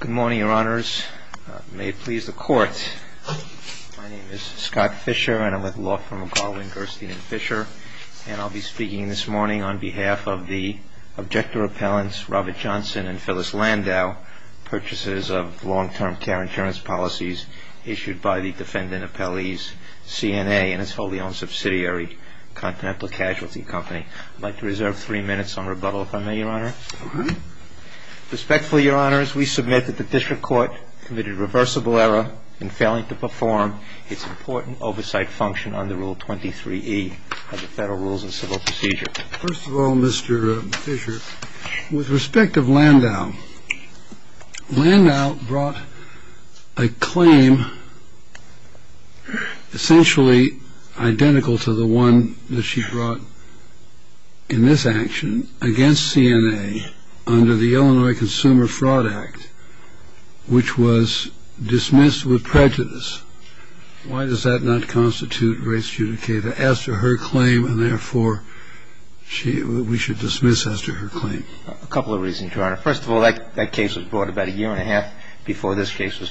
Good morning, Your Honors. May it please the Court, my name is Scott Fisher and I'm with Law Firm of Garland, Gerstein & Fisher, and I'll be speaking this morning on behalf of the objector appellants, Robert Johnson and Phyllis Landau, purchases of long-term care insurance policies issued by the defendant appellee's CNA and its wholly owned subsidiary, Continental Casualty Company. I'd like to reserve three minutes on rebuttal if I may, Your Honor. All right. Respectfully, Your Honors, we submit that the District Court committed reversible error in failing to perform its important oversight function under Rule 23E of the Federal Rules of Civil Procedure. First of all, Mr. Fisher, with respect of Landau, Landau brought a claim essentially identical to the one that she brought in this action against CNA under the Illinois Consumer Fraud Act, which was dismissed with prejudice. Why does that not constitute race judicata as to her claim and therefore we should dismiss as to her claim? A couple of reasons, Your Honor. First of all, that case was brought about a year and a half ago. It was a case that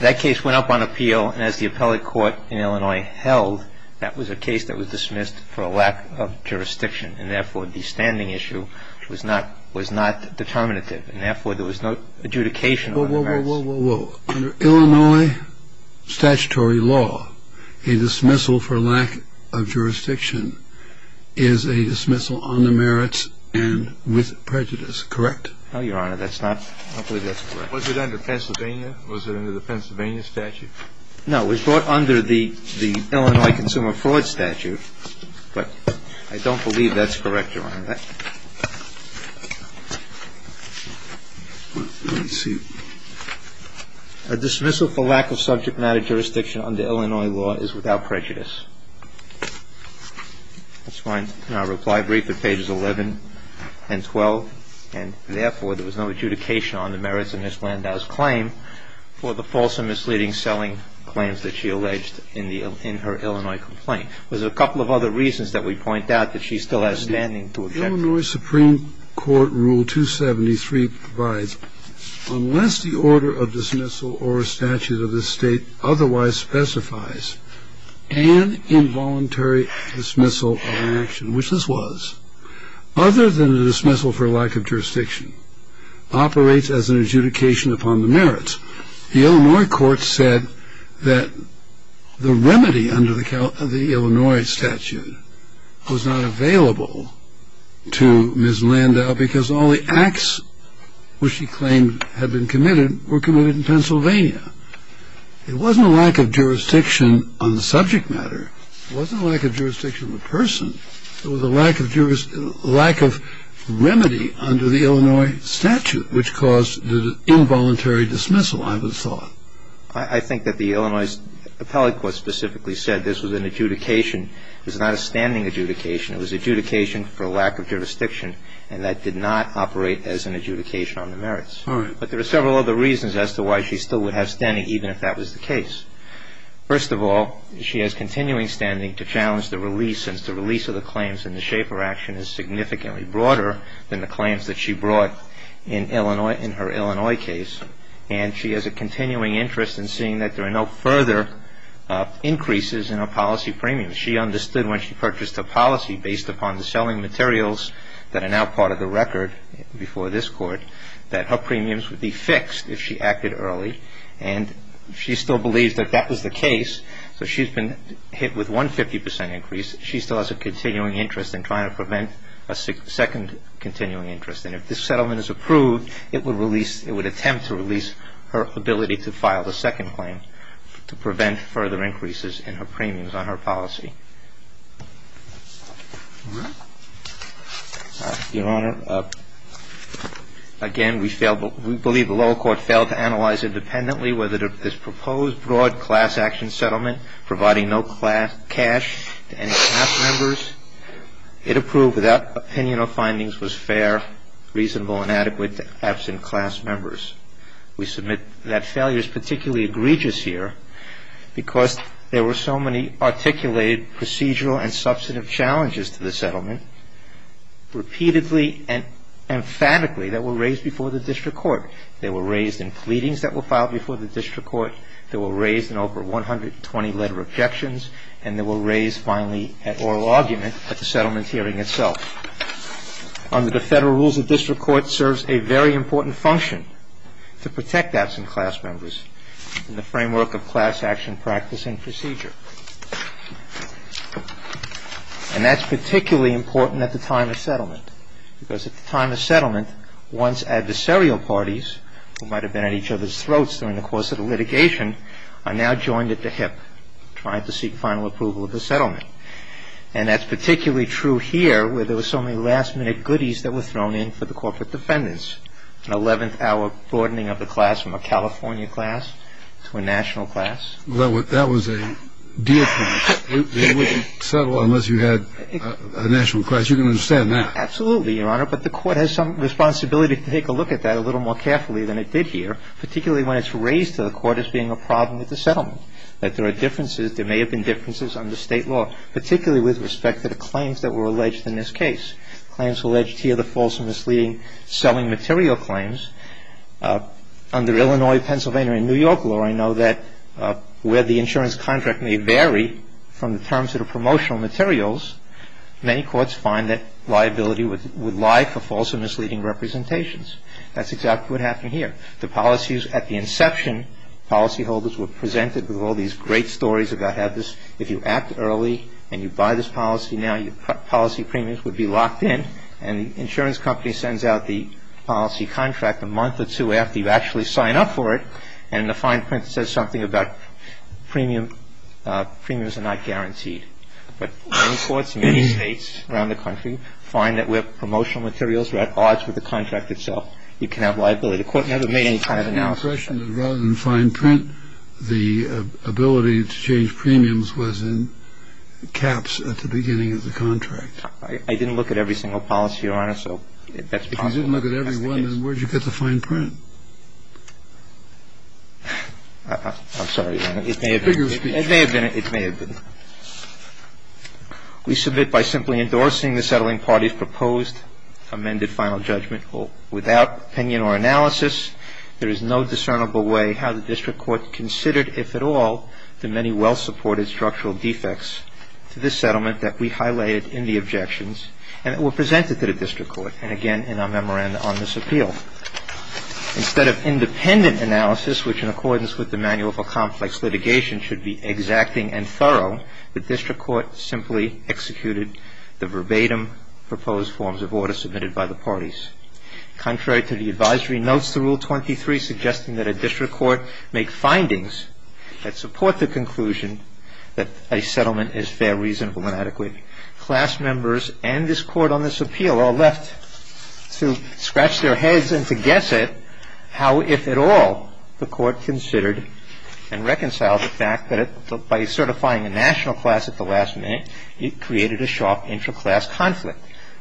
the appellate court in Illinois held that was a case that was dismissed for a lack of jurisdiction and therefore the standing issue was not determinative and therefore there was no adjudication on the merits. Whoa, whoa, whoa, whoa, whoa. Under Illinois statutory law, a dismissal for lack of jurisdiction is a dismissal on the merits and with prejudice, correct? No, Your Honor. That's not – I don't believe that's correct. Was it under Pennsylvania? Was it under the Pennsylvania statute? No, it was brought under the Illinois Consumer Fraud statute, but I don't believe that's correct, Your Honor. Let me see. A dismissal for lack of subject matter jurisdiction under Illinois law is without prejudice. That's fine. Now reply brief at pages 11 and 12. And therefore there was no adjudication on the merits of Ms. Blandau's claim for the false and misleading selling claims that she alleged in her Illinois complaint. There's a couple of other reasons that we point out that she still has standing to object to that. Illinois Supreme Court Rule 273 provides, unless the order of dismissal or statute of the state otherwise specifies an involuntary dismissal of an action, which this was, other than a dismissal for lack of jurisdiction, operates as an adjudication upon the merits. The Illinois court said that the remedy under the Illinois statute was not available to Ms. Blandau because all the acts which she claimed had been committed were committed in Pennsylvania. It wasn't a lack of jurisdiction on the subject matter. It wasn't a lack of under the Illinois statute, which caused the involuntary dismissal, I would thought. I think that the Illinois appellate court specifically said this was an adjudication. It was not a standing adjudication. It was an adjudication for lack of jurisdiction. And that did not operate as an adjudication on the merits. All right. But there are several other reasons as to why she still would have standing, even if that was the case. First of all, she has continuing standing to challenge the release, since the release of the claims in the Schaefer action is significantly broader than the claims that she brought in Illinois, in her Illinois case. And she has a continuing interest in seeing that there are no further increases in her policy premiums. She understood when she purchased a policy based upon the selling materials that are now part of the record before this court that her premiums would be fixed if she acted early. And she still believes that that was the case. So she's been hit with one 50 percent increase. She still has a continuing interest in trying to prevent a second continuing interest. And if this settlement is approved, it would release, it would attempt to release her ability to file the second claim to prevent further increases in her premiums on her policy. Your Honor, again, we failed, we believe the lower court failed to analyze independently whether this proposed broad class action settlement, providing no cash to any class members, it approved without opinion or findings was fair, reasonable, and adequate to absent class members. We submit that failure is particularly egregious here because there were so many articulated procedural and substantive challenges to the settlement, repeatedly and emphatically that were raised before the district court. They were raised in pleadings that were filed before the district court. They were raised in over 120 letter objections. And they were raised finally at oral argument at the settlement hearing itself. Under the federal rules, the district court serves a very important function to protect absent class members in the framework of class action practice and procedure. And that's particularly important at the time of settlement because at the time of settlement, once adversarial parties who might have been at each other's throats during the course of the litigation are now joined at the hip trying to seek final approval of the settlement. And that's particularly true here where there were so many last-minute goodies that were thrown in for the corporate defendants, an 11th-hour broadening of the class from a California class to a national class. Well, that was a deal-breaker. They wouldn't settle unless you had a national class. You can understand that. Absolutely, Your Honor. But the court has some responsibility to take a look at that a little more carefully than it did here, particularly when it's raised to the court as being a problem with the settlement, that there are differences, there may have been differences under state law, particularly with respect to the claims that were alleged in this case, claims alleged here, the false and misleading selling material claims. Under Illinois, Pennsylvania, and New York law, I know that where the insurance contract may vary from the terms of the promotional materials, many courts find that liability would lie for false and misleading representations. That's exactly what happened here. The policies at the inception, policyholders were presented with all these great stories about how this if you act early and you buy this policy now, your policy premiums would be locked in. And the insurance company sends out the policy contract a month or two after you actually sign up for it. And in the fine print it says something about premiums are not guaranteed. But many courts in many states around the country find that where promotional materials are at odds with the contract itself, you can have liability. The court never made any kind of an offer. I have the impression that rather than fine print, the ability to change premiums was in caps at the beginning of the contract. I didn't look at every single policy, Your Honor, so that's possible. You didn't look at every one, then where did you get the fine print? I'm sorry, Your Honor. It's bigger speech. It may have been. We submit by simply endorsing the settling party's proposed amended final judgment without opinion or analysis, there is no discernible way how the district court considered, if at all, the many well-supported structural defects to this settlement that we highlighted in the objections and that were presented to the district court, and again in our memorandum on this appeal. Instead of independent analysis, which in accordance with the manual for complex litigation should be exacting and thorough, the district court simply executed the verbatim proposed forms of order submitted by the parties. Contrary to the advisory notes, the Rule 23 suggesting that a district court make findings that support the conclusion that a settlement is fair, reasonable, and adequate. Class members and this court on this appeal are left to scratch their heads and to guess at how, if at all, the court considered and reconciled the fact that by certifying a national class at the last minute, it created a sharp intra-class conflict.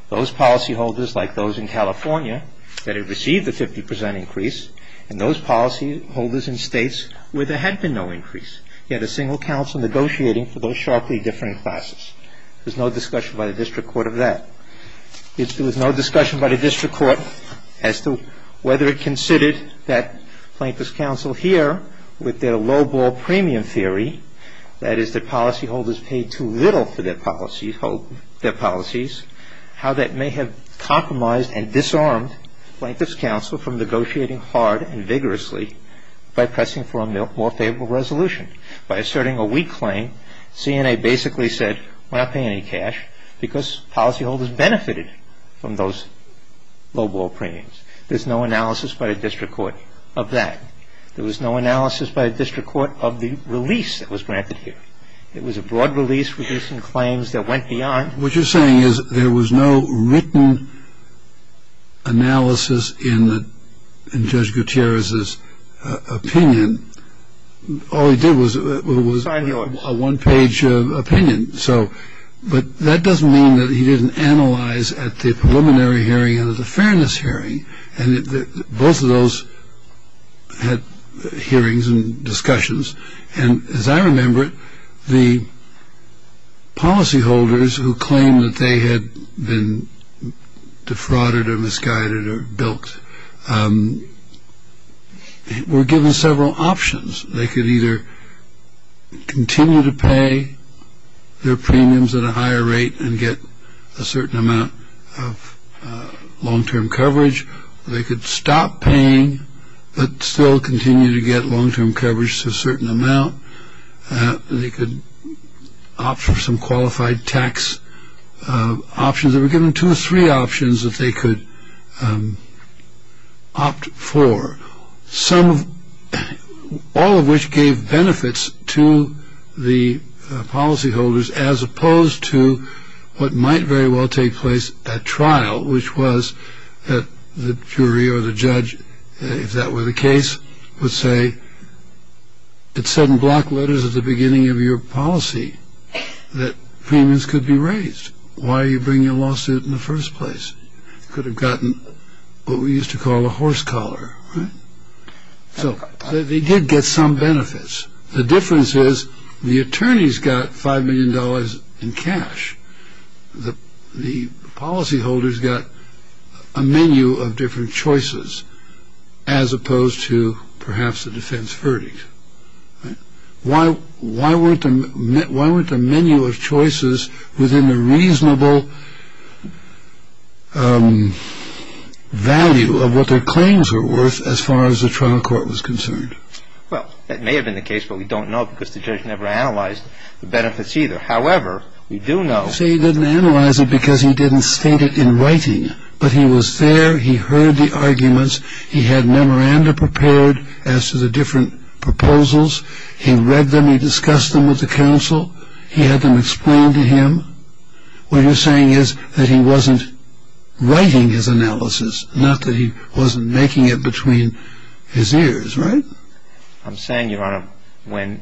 Those policyholders, like those in California, that had received a 50 percent increase, and those policyholders in states where there had been no increase, yet a single counsel negotiating for those sharply different classes. There's no discussion by the district court of that. There was no discussion by the district court as to whether it considered that Plaintiff's counsel here, with their low-ball premium theory, that is that policyholders paid too little for their policies, how that may have compromised and disarmed Plaintiff's counsel from negotiating hard and vigorously by pressing for a more favorable resolution. By asserting a weak claim, CNA basically said, we're not paying any cash because policyholders benefited from those low-ball premiums. There's no analysis by the district court of that. There was no analysis by the district court of the release that was granted here. It was a broad release reducing claims that went beyond. What you're saying is there was no written analysis in Judge Gutierrez's opinion. All he did was a one-page opinion. So, but that doesn't mean that he didn't analyze at the preliminary hearing and at the fairness hearing, and both of those had hearings and discussions. And as I remember it, the policyholders who claimed that they had been defrauded or They could either continue to pay their premiums at a higher rate and get a certain amount of long-term coverage. They could stop paying but still continue to get long-term coverage to a certain amount. They could opt for some qualified tax options. They were given two or three options that they could opt for. Some of, all of which gave benefits to the policyholders as opposed to what might very well take place at trial, which was that the jury or the judge, if that were the case, would say, it said in black letters at the beginning of your policy that premiums could be raised. Why are you bringing a lawsuit in the first place? Could have gotten what we used to call a horse collar, right? So they did get some benefits. The difference is the attorneys got $5 million in cash. The policyholders got a menu of different choices as opposed to perhaps a defense verdict, right? So why weren't the menu of choices within the reasonable value of what their claims are worth as far as the trial court was concerned? Well, that may have been the case, but we don't know because the judge never analyzed the benefits either. However, we do know- See, he didn't analyze it because he didn't state it in writing. But he was there, he heard the arguments, he had memoranda prepared as to the different proposals. He read them, he discussed them with the counsel, he had them explained to him. What you're saying is that he wasn't writing his analysis, not that he wasn't making it between his ears, right? I'm saying, Your Honor, when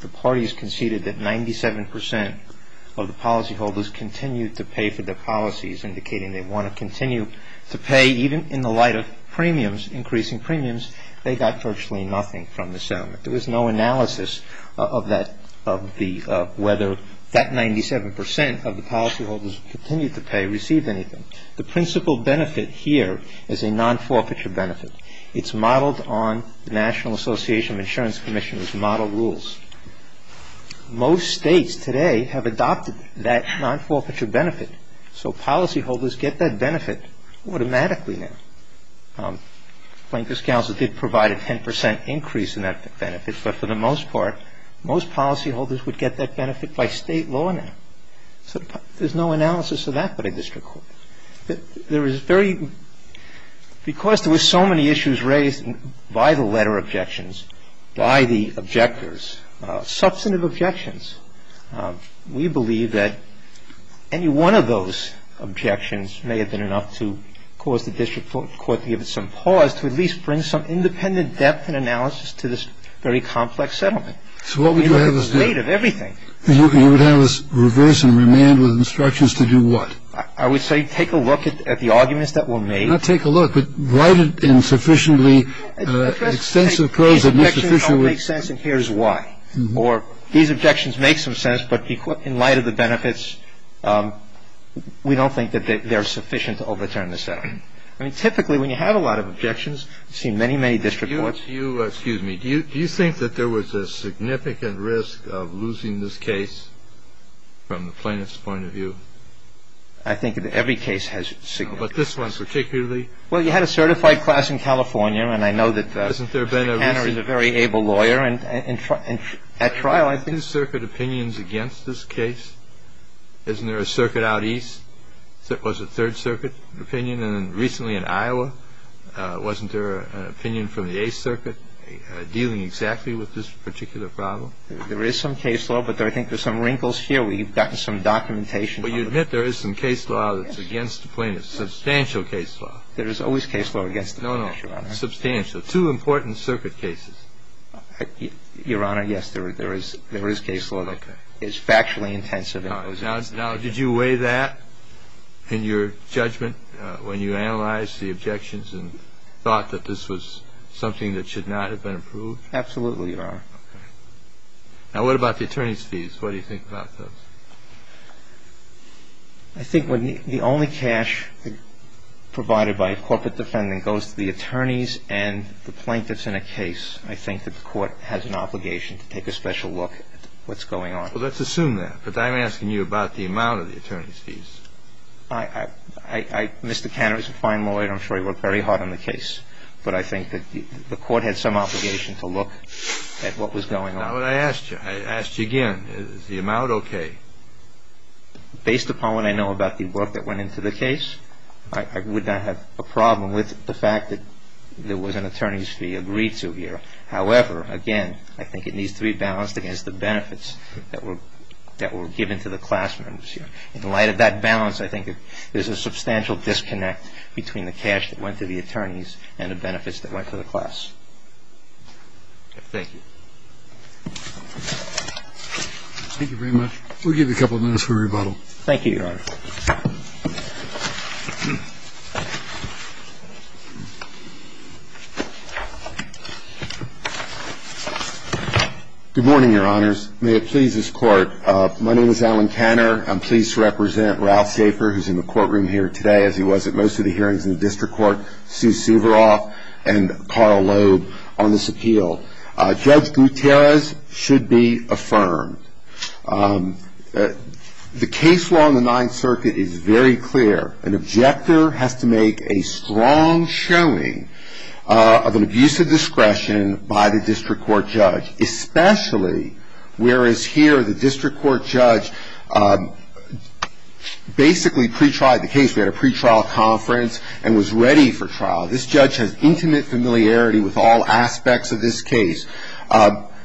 the parties conceded that 97% of the policyholders continued to pay for their policies, indicating they want to continue to pay, even in the light of premiums, increasing premiums, they got virtually nothing from the settlement. There was no analysis of whether that 97% of the policyholders who continued to pay received anything. The principal benefit here is a non-forfeiture benefit. It's modeled on the National Association of Insurance Commission's model rules. Most states today have adopted that non-forfeiture benefit. So policyholders get that benefit automatically now. Plaintiff's counsel did provide a 10% increase in that benefit, but for the most part, most policyholders would get that benefit by state law now. So there's no analysis of that but a district court. There is very, because there were so many issues raised by the letter objections, by the objectors, substantive objections, we believe that any one of those objections may have been enough to cause the district court to give it some pause, to at least bring some independent depth and analysis to this very complex settlement. So what would you have us do? We have a debate of everything. You would have us reverse and remand with instructions to do what? I would say take a look at the arguments that were made. Not take a look, but write it in sufficiently extensive prose that makes sufficient These objections don't make sense and here's why. Or these objections make some sense, but in light of the benefits, we don't think that they're sufficient to overturn the settlement. I mean, typically when you have a lot of objections, I've seen many, many district courts. Do you think that there was a significant risk of losing this case from the plaintiff's point of view? I think that every case has significant risk. But this one particularly? Well, you had a certified class in California and I know that McHenry is a very able lawyer and at trial I think I think that there are two important circuit cases. Is there any circuit opinion against this case? Isn't there a circuit out east that was a third circuit opinion and recently in Iowa, wasn't there an opinion from the eighth circuit dealing exactly with this particular problem? There is some case law, but I think there are some wrinkles here. We've gotten some documentation. But you admit there is some case law that's against the plaintiff's. Substantial case law. There is always case law against the plaintiff, Your Honor. No, no. Substantial. So two important circuit cases. Your Honor, yes, there is case law that is factually intensive. Now, did you weigh that in your judgment when you analyzed the objections and thought that this was something that should not have been approved? Absolutely, Your Honor. Now, what about the attorney's fees? What do you think about those? I think the only cash provided by a corporate defendant when it goes to the attorneys and the plaintiffs in a case, I think that the court has an obligation to take a special look at what's going on. Well, let's assume that. But I'm asking you about the amount of the attorney's fees. Mr. Cannery is a fine lawyer. I'm sure he worked very hard on the case. But I think that the court had some obligation to look at what was going on. Now, I asked you. I asked you again, is the amount OK? Based upon what I know about the work that went into the case, I would not have a problem with the fact that there was an attorney's fee agreed to here. However, again, I think it needs to be balanced against the benefits that were given to the class members here. In light of that balance, I think that there's a substantial disconnect between the cash that went to the attorneys and the benefits that went to the class. Thank you. Thank you very much. We'll give you a couple of minutes for rebuttal. Thank you, Your Honor. Thank you. Good morning, Your Honors. May it please this court. My name is Alan Canner. I'm pleased to represent Ralph Schaefer, who's in the courtroom here today, as he was at most of the hearings in the district court, Sue Suveroff and Carl Loeb on this appeal. Judge Gutierrez should be affirmed. The case law in the Ninth Circuit is very clear. An objector has to make a strong showing of an abuse of discretion by the district court judge, especially whereas here, the district court judge basically pre-tried the case. We had a pre-trial conference and was ready for trial. This judge has intimate familiarity with all aspects of this case.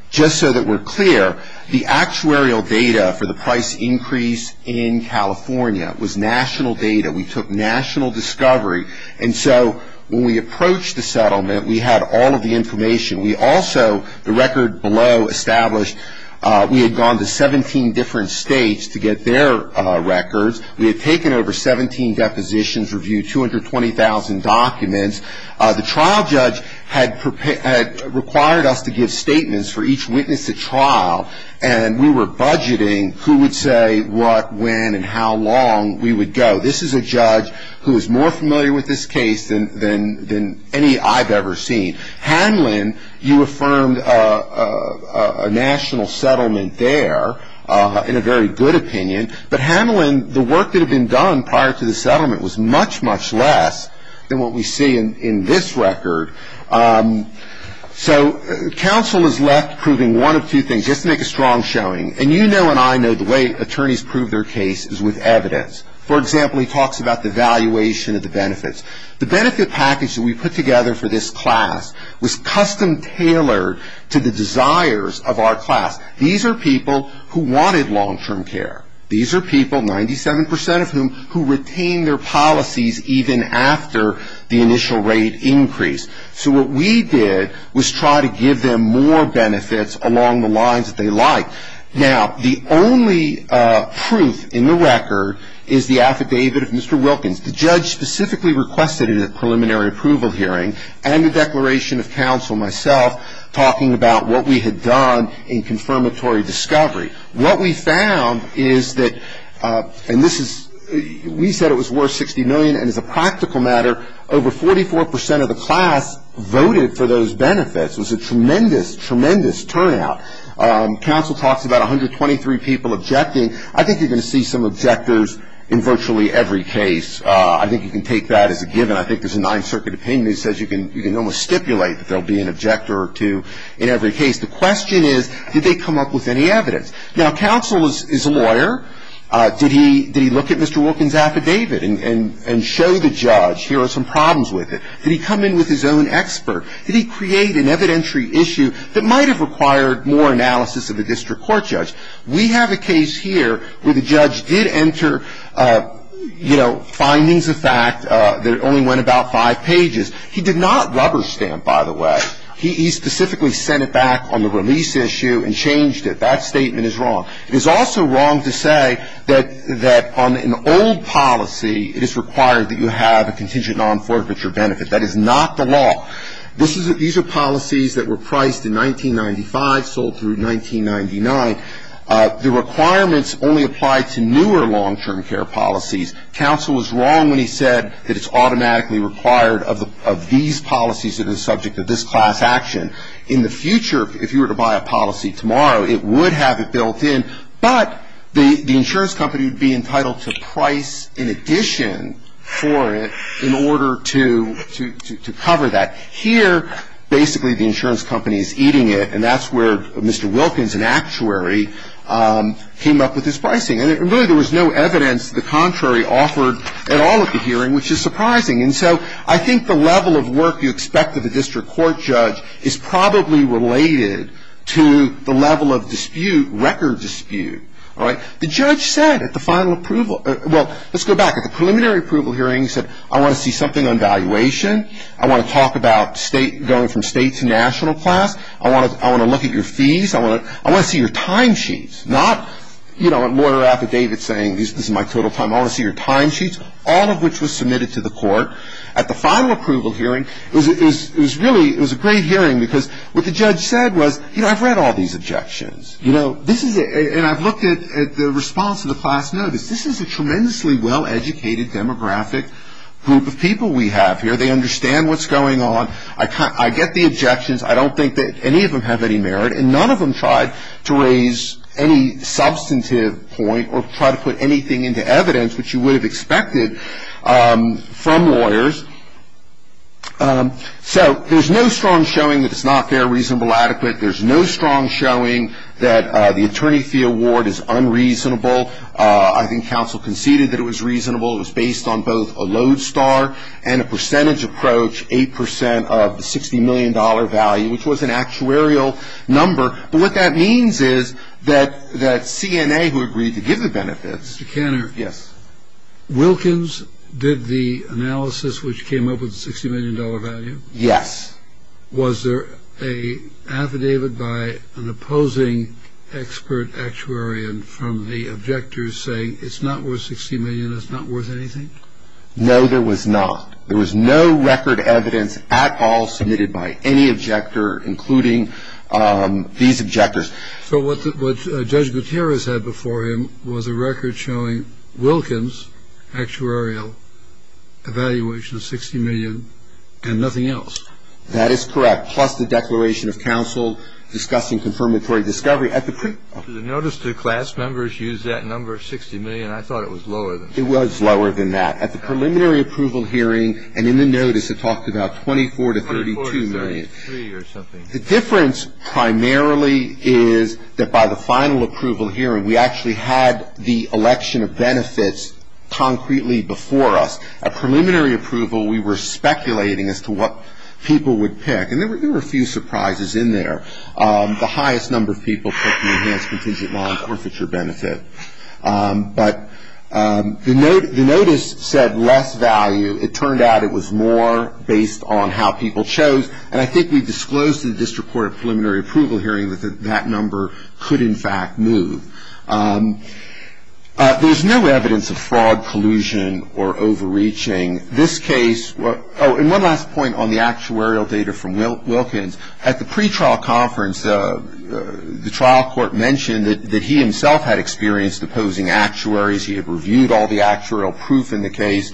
Just so that we're clear, the actuarial data for the price increase in California was national data. We took national discovery. And so, when we approached the settlement, we had all of the information. We also, the record below established, we had gone to 17 different states to get their records. We had taken over 17 depositions, reviewed 220,000 documents. The trial judge had required us to give statements for each witness at trial. And we were budgeting who would say what, when, and how long we would go. This is a judge who is more familiar with this case than any I've ever seen. Hanlon, you affirmed a national settlement there, in a very good opinion. But Hanlon, the work that had been done prior to the settlement was much, much less than what we see in this record. So, counsel is left proving one of two things, just to make a strong showing. And you know and I know the way attorneys prove their cases with evidence. For example, he talks about the valuation of the benefits. The benefit package that we put together for this class was custom-tailored to the desires of our class. These are people who wanted long-term care. These are people, 97% of whom, who retained their policies even after the initial rate increase. So, what we did was try to give them more benefits along the lines that they liked. Now, the only truth in the record is the affidavit of Mr. Wilkins. The judge specifically requested a preliminary approval hearing and a declaration of counsel, myself, talking about what we had done in confirmatory discovery. What we found is that, and this is, we said it was worth $60 million, and as a practical matter, over 44% of the class voted for those benefits. It was a tremendous, tremendous turnout. Counsel talks about 123 people objecting. I think you're going to see some objectors in virtually every case. I think you can take that as a given. I think there's a Ninth Circuit opinion that says you can almost stipulate that there will be an objector or two in every case. The question is, did they come up with any evidence? Now, counsel is a lawyer. Did he look at Mr. Wilkins' affidavit and show the judge, here are some problems with it? Did he come in with his own expert? Did he create an evidentiary issue that might have required more analysis of the district court judge? We have a case here where the judge did enter, you know, findings of fact that only went about five pages. He did not rubber stamp, by the way. He specifically sent it back on the release issue and changed it. That statement is wrong. It is also wrong to say that on an old policy, it is required that you have a contingent non-forfeiture benefit. That is not the law. These are policies that were priced in 1995, sold through 1999. The requirements only apply to newer long-term care policies. Counsel was wrong when he said that it's automatically required of these policies that are subject to this class action. In the future, if you were to buy a policy tomorrow, it would have it built in, but the insurance company would be entitled to price in addition for it in order to cover that. Here, basically, the insurance company is eating it, and that's where Mr. Wilkins, an actuary, came up with this pricing. And really, there was no evidence the contrary offered at all at the hearing, which is surprising. And so I think the level of work you expect of a district court judge is probably related to the level of dispute, record dispute, all right? The judge said at the final approval, well, let's go back. At the preliminary approval hearing, he said, I want to see something on valuation. I want to talk about going from state to national class. I want to look at your fees. I want to see your time sheets, not, you know, a lawyer affidavit saying this is my total time. I want to see your time sheets, all of which was submitted to the court. At the final approval hearing, it was really, it was a great hearing, because what the judge said was, you know, I've read all these objections. You know, this is a, and I've looked at the response to the class notice. This is a tremendously well-educated demographic group of people we have here. They understand what's going on. I get the objections. I don't think that any of them have any merit, and none of them tried to raise any substantive point or try to put anything into evidence, which you would have expected from lawyers. So there's no strong showing that it's not fair, reasonable, adequate. There's no strong showing that the attorney fee award is unreasonable. I think counsel conceded that it was reasonable. It was based on both a load star and a percentage approach, 8% of the $60 million value, which was an actuarial number. But what that means is that CNA, who agreed to give the benefits. Mr. Kanner. Yes. Wilkins did the analysis which came up with the $60 million value. Yes. Was there an affidavit by an opposing expert actuarian from the objectors saying it's not worth $60 million, it's not worth anything? No, there was not. There was no record evidence at all submitted by any objector, including these objectors. So what Judge Gutierrez had before him was a record showing Wilkins, actuarial, evaluation of $60 million, and nothing else. That is correct, plus the declaration of counsel discussing confirmatory discovery. The notice to class members used that number of $60 million. I thought it was lower than that. It was lower than that. At the preliminary approval hearing and in the notice, it talked about $24 to $32 million. $23 or something. The difference primarily is that by the final approval hearing, we actually had the election of benefits concretely before us. At preliminary approval, we were speculating as to what people would pick. And there were a few surprises in there. The highest number of people took the enhanced contingent law and forfeiture benefit. But the notice said less value. It turned out it was more based on how people chose. And I think we disclosed to the District Court of Preliminary Approval Hearing that that number could, in fact, move. There's no evidence of fraud, collusion, or overreaching. This case, oh, and one last point on the actuarial data from Wilkins. At the pretrial conference, the trial court mentioned that he himself had experienced opposing actuaries. He had reviewed all the actuarial proof in the case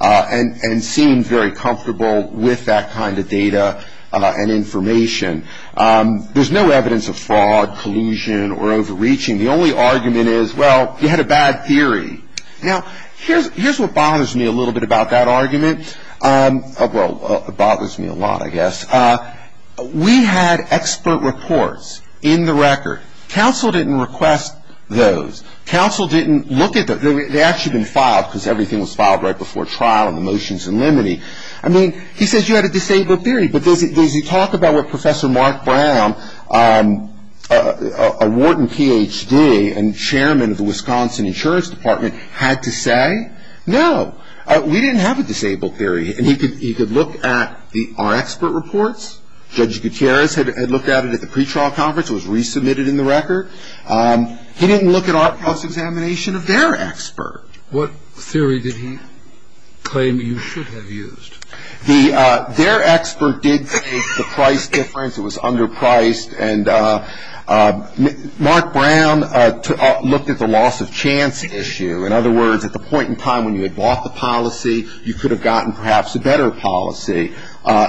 and seemed very comfortable with that kind of data and information. There's no evidence of fraud, collusion, or overreaching. The only argument is, well, you had a bad theory. Now, here's what bothers me a little bit about that argument. Well, it bothers me a lot, I guess. We had expert reports in the record. Counsel didn't request those. Counsel didn't look at them. They had actually been filed because everything was filed right before trial and the motion's in limine. I mean, he says you had a disabled theory, but does he talk about what Professor Mark Brown, a Wharton PhD and chairman of the Wisconsin Insurance Department, had to say? No. We didn't have a disabled theory, and he could look at our expert reports. Judge Gutierrez had looked at it at the pretrial conference. It was resubmitted in the record. He didn't look at our cross-examination of their expert. What theory did he claim you should have used? Their expert did state the price difference. It was underpriced, and Mark Brown looked at the loss of chance issue. In other words, at the point in time when you had bought the policy, you could have gotten perhaps a better policy.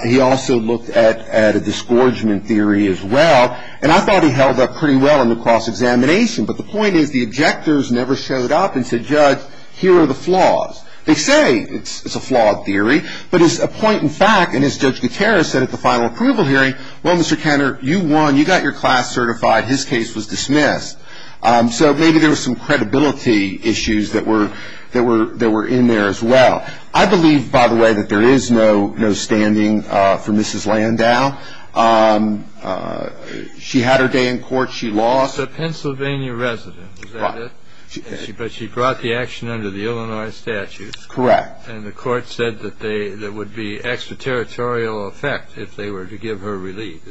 He also looked at a disgorgement theory as well, and I thought he held up pretty well in the cross-examination. But the point is, the objectors never showed up and said, Judge, here are the flaws. They say it's a flawed theory, but it's a point in fact, and as Judge Gutierrez said at the final approval hearing, well, Mr. Kenner, you won. You got your class certified. His case was dismissed. So maybe there was some credibility issues that were in there as well. I believe, by the way, that there is no standing for Mrs. Landau. She had her day in court. She lost. She's a Pennsylvania resident, but she brought the action under the Illinois statutes. Correct. And the court said that there would be extraterritorial effect if they were to give her relief.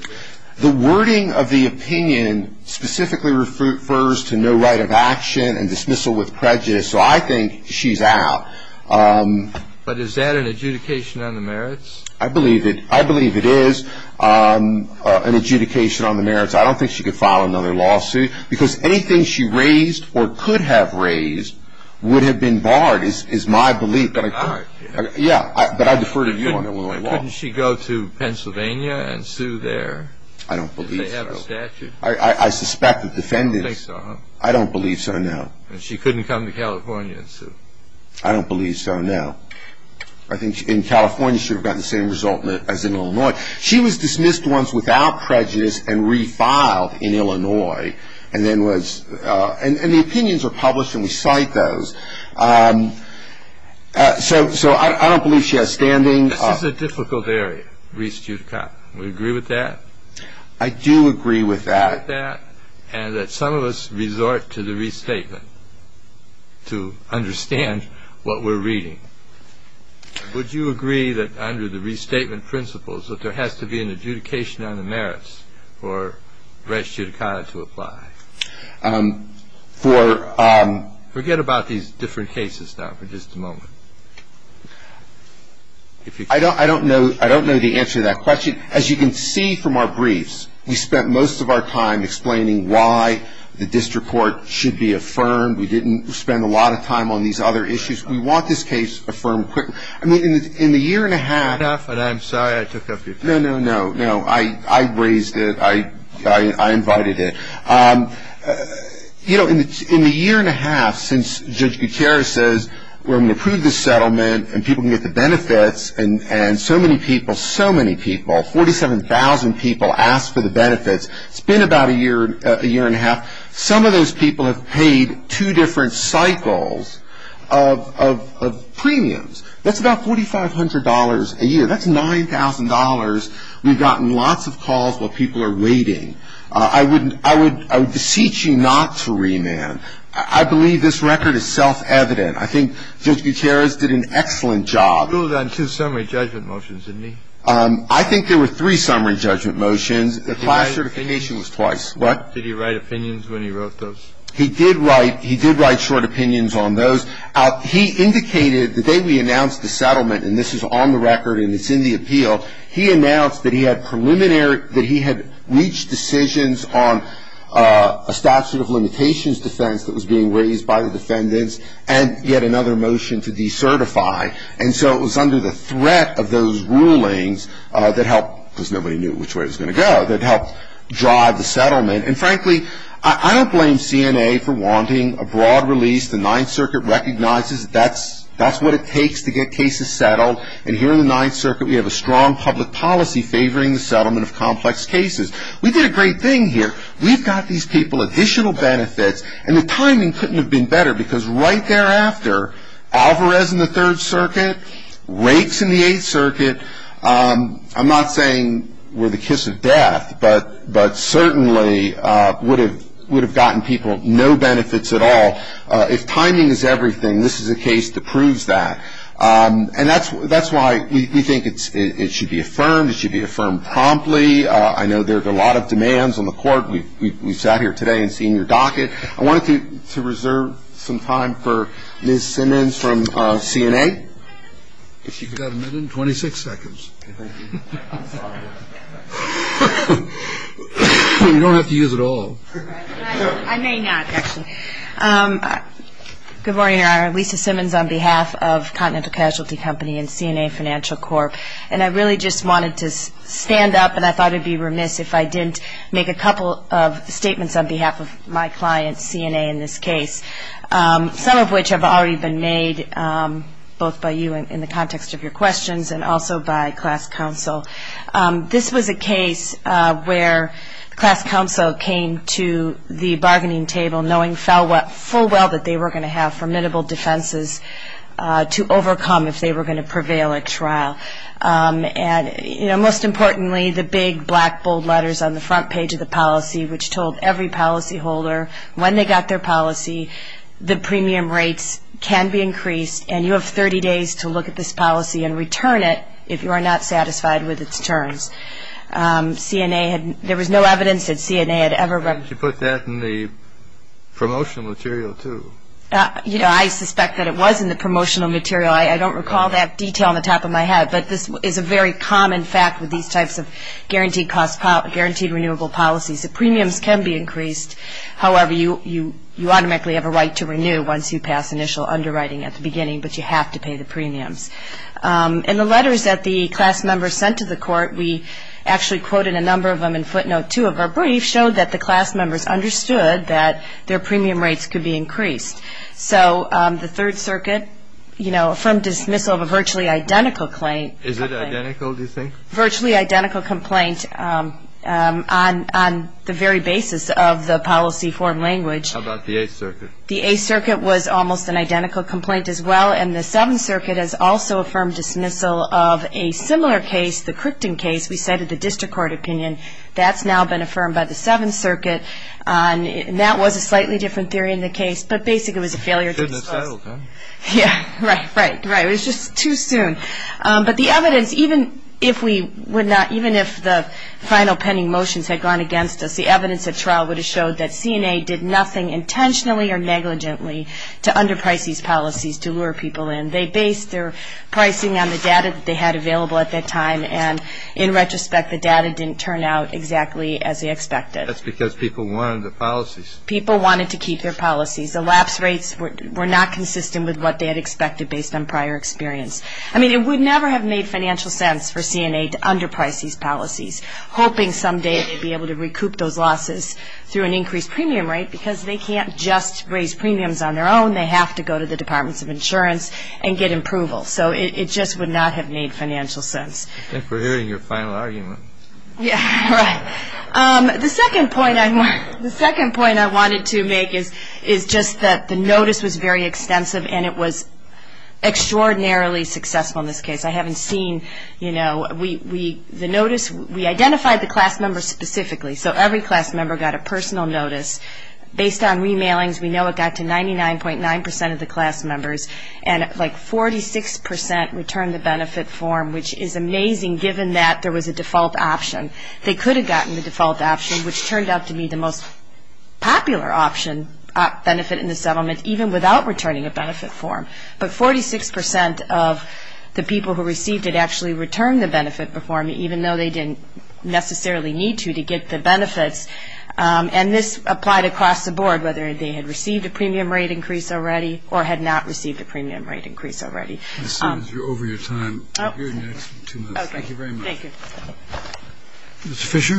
The wording of the opinion specifically refers to no right of action and dismissal with prejudice, so I think she's out. But is that an adjudication on the merits? I believe it is an adjudication on the merits. I don't think she could file another lawsuit, because anything she raised or could have raised would have been barred is my belief. But I defer to you on that one. Couldn't she go to Pennsylvania and sue there? I don't believe so. I suspect the defendants. I don't believe so, no. She couldn't come to California and sue? I don't believe so, no. I think in California she would have gotten the same result as in Illinois. She was dismissed once without prejudice and refiled in Illinois, and the opinions were published, and we cite those. So I don't believe she has standing. This is a difficult area, Rees-Judicot. Would you agree with that? I do agree with that. And that some of us resort to the restatement to understand what we're reading. Would you agree that under the restatement principles that there has to be an adjudication on the merits for Rees-Judicot to apply? For um... Forget about these different cases now for just a moment. I don't know the answer to that question. As you can see from our briefs, we spent most of our time explaining why the district court should be affirmed. We didn't spend a lot of time on these other issues. We want this case affirmed quickly. I mean, in the year and a half... Enough, and I'm sorry I took up your time. No, no, no. No, I raised it. I invited it. You know, in the year and a half since Judge Gutierrez says, we're going to approve this settlement and people can get the benefits, and so many people, so many people, 47,000 people asked for the benefits. It's been about a year, a year and a half. Some of those people have paid two different cycles of premiums. That's about $4,500 a year. That's $9,000. We've gotten lots of calls while people are waiting. I would beseech you not to remand. I believe this record is self-evident. I think Judge Gutierrez did an excellent job. He ruled on two summary judgment motions, didn't he? I think there were three summary judgment motions. The class certification was twice. What? Did he write opinions when he wrote those? He did write short opinions on those. He indicated the day we announced the settlement, and this is on the record and it's in the appeal, he announced that he had reached decisions on a statute of limitations defense that was being raised by the defendants, and he had another motion to decertify. And so it was under the threat of those rulings that helped, because nobody knew which way it was going to go, that helped drive the settlement. And frankly, I don't blame CNA for wanting a broad release. The Ninth Circuit recognizes that's what it takes to get cases settled, and here in the Ninth Circuit we have a strong public policy favoring the settlement of complex cases. We did a great thing here. We've got these people additional benefits, and the timing couldn't have been better, because right thereafter, Alvarez in the Third Circuit, Rakes in the Eighth Circuit, I'm not saying were the kiss of death, but certainly would have gotten people no benefits at all. If timing is everything, this is a case that proves that. And that's why we think it should be affirmed, it should be affirmed promptly. I know there are a lot of demands on the court. We sat here today and seen your docket. I wanted to reserve some time for Ms. Simmons from CNA. You've got a minute and 26 seconds. Thank you. I'm sorry. You don't have to use it all. I may not, actually. Good morning, Your Honor. Lisa Simmons on behalf of Continental Casualty Company and CNA Financial Corp. And I really just wanted to stand up, and I thought I'd be remiss if I didn't make a couple of statements on behalf of my client, CNA, in this case, some of which have already been made both by you in the context of your questions and also by class counsel. This was a case where the class counsel came to the bargaining table knowing full well that they were going to have formidable defenses to overcome if they were going to prevail at trial. And most importantly, the big, black, bold letters on the front page of the policy, which told every policyholder when they got their policy, the premium rates can be increased, and you have 30 days to look at this policy and return it if you are not satisfied with its terms. There was no evidence that CNA had ever- Why didn't you put that in the promotional material, too? You know, I suspect that it was in the promotional material. I don't recall that detail on the top of my head, but this is a very common fact with these types of guaranteed cost, guaranteed renewable policies. The premiums can be increased. However, you automatically have a right to renew once you pass initial underwriting at the beginning, but you have to pay the premiums. And the letters that the class members sent to the court, we actually quoted a number of them in footnote 2 of our brief, showed that the class members understood that their premium rates could be increased. So the Third Circuit, you know, affirmed dismissal of a virtually identical claim- Is it identical, do you think? Virtually identical complaint on the very basis of the policy form language. How about the Eighth Circuit? The Eighth Circuit was almost an identical complaint as well, and the Seventh Circuit has also affirmed dismissal of a similar case, the Crichton case. We cited the district court opinion. That's now been affirmed by the Seventh Circuit, and that was a slightly different theory in the case, but basically it was a failure to dismiss. Shouldn't have settled, huh? Yeah, right, right, right. It was just too soon. But the evidence, even if the final pending motions had gone against us, the evidence at trial would have showed that CNA did nothing intentionally or negligently to underprice these policies to lure people in. They based their pricing on the data that they had available at that time, and in retrospect, the data didn't turn out exactly as they expected. That's because people wanted the policies. People wanted to keep their policies. The lapse rates were not consistent with what they had expected based on prior experience. I mean, it would never have made financial sense for CNA to underprice these policies, hoping someday they'd be able to recoup those losses through an increased premium rate because they can't just raise premiums on their own. They have to go to the Departments of Insurance and get approval. So it just would not have made financial sense. I think we're hearing your final argument. Yeah, right. The second point I wanted to make is just that the notice was very extensive, and it was extraordinarily successful in this case. I haven't seen, you know, the notice. We identified the class members specifically, so every class member got a personal notice. Based on remailings, we know it got to 99.9% of the class members, and, like, 46% returned the benefit form, which is amazing given that there was a default option. They could have gotten the default option, which turned out to be the most popular option, benefit in the settlement, even without returning a benefit form. But 46% of the people who received it actually returned the benefit form, even though they didn't necessarily need to to get the benefits. And this applied across the board, whether they had received a premium rate increase already or had not received a premium rate increase already. I see you're over your time. Thank you very much. Thank you. Mr. Fisher,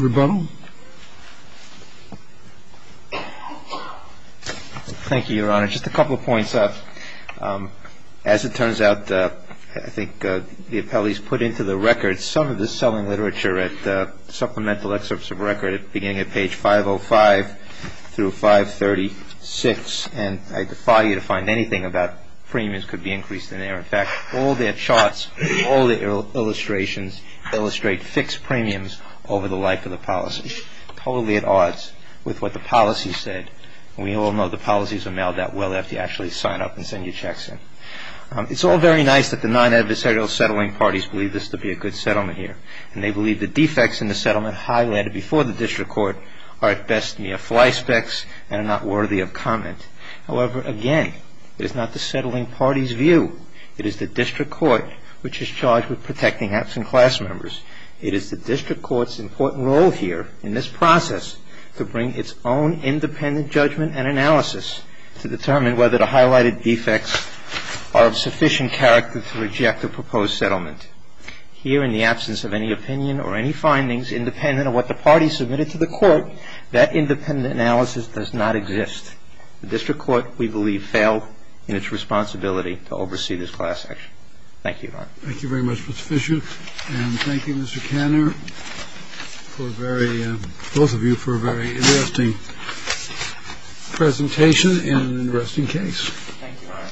rebuttal. Thank you, Your Honor. Just a couple of points. As it turns out, I think the appellees put into the record some of this selling literature at supplemental excerpts of record beginning at page 505 through 536, and I defy you to find anything about premiums could be increased in there. In fact, all their charts, all their illustrations illustrate fixed premiums over the life of the policy, totally at odds with what the policy said. And we all know the policies are mailed out well after you actually sign up and send your checks in. It's all very nice that the non-adversarial settling parties believe this to be a good settlement here, and they believe the defects in the settlement highlighted before the district court are at best mere fly specks and are not worthy of comment. However, again, it is not the settling party's view. It is the district court which is charged with protecting absent class members. It is the district court's important role here in this process to bring its own independent judgment and analysis to determine whether the highlighted defects are of sufficient character to reject the proposed settlement. Here, in the absence of any opinion or any findings independent of what the party submitted to the court, that independent analysis does not exist. The district court, we believe, failed in its responsibility to oversee this class action. Thank you, Your Honor. Thank you very much, Mr. Fisher. And thank you, Mr. Kanner, both of you, for a very interesting presentation and an interesting case. Thank you, Your Honor.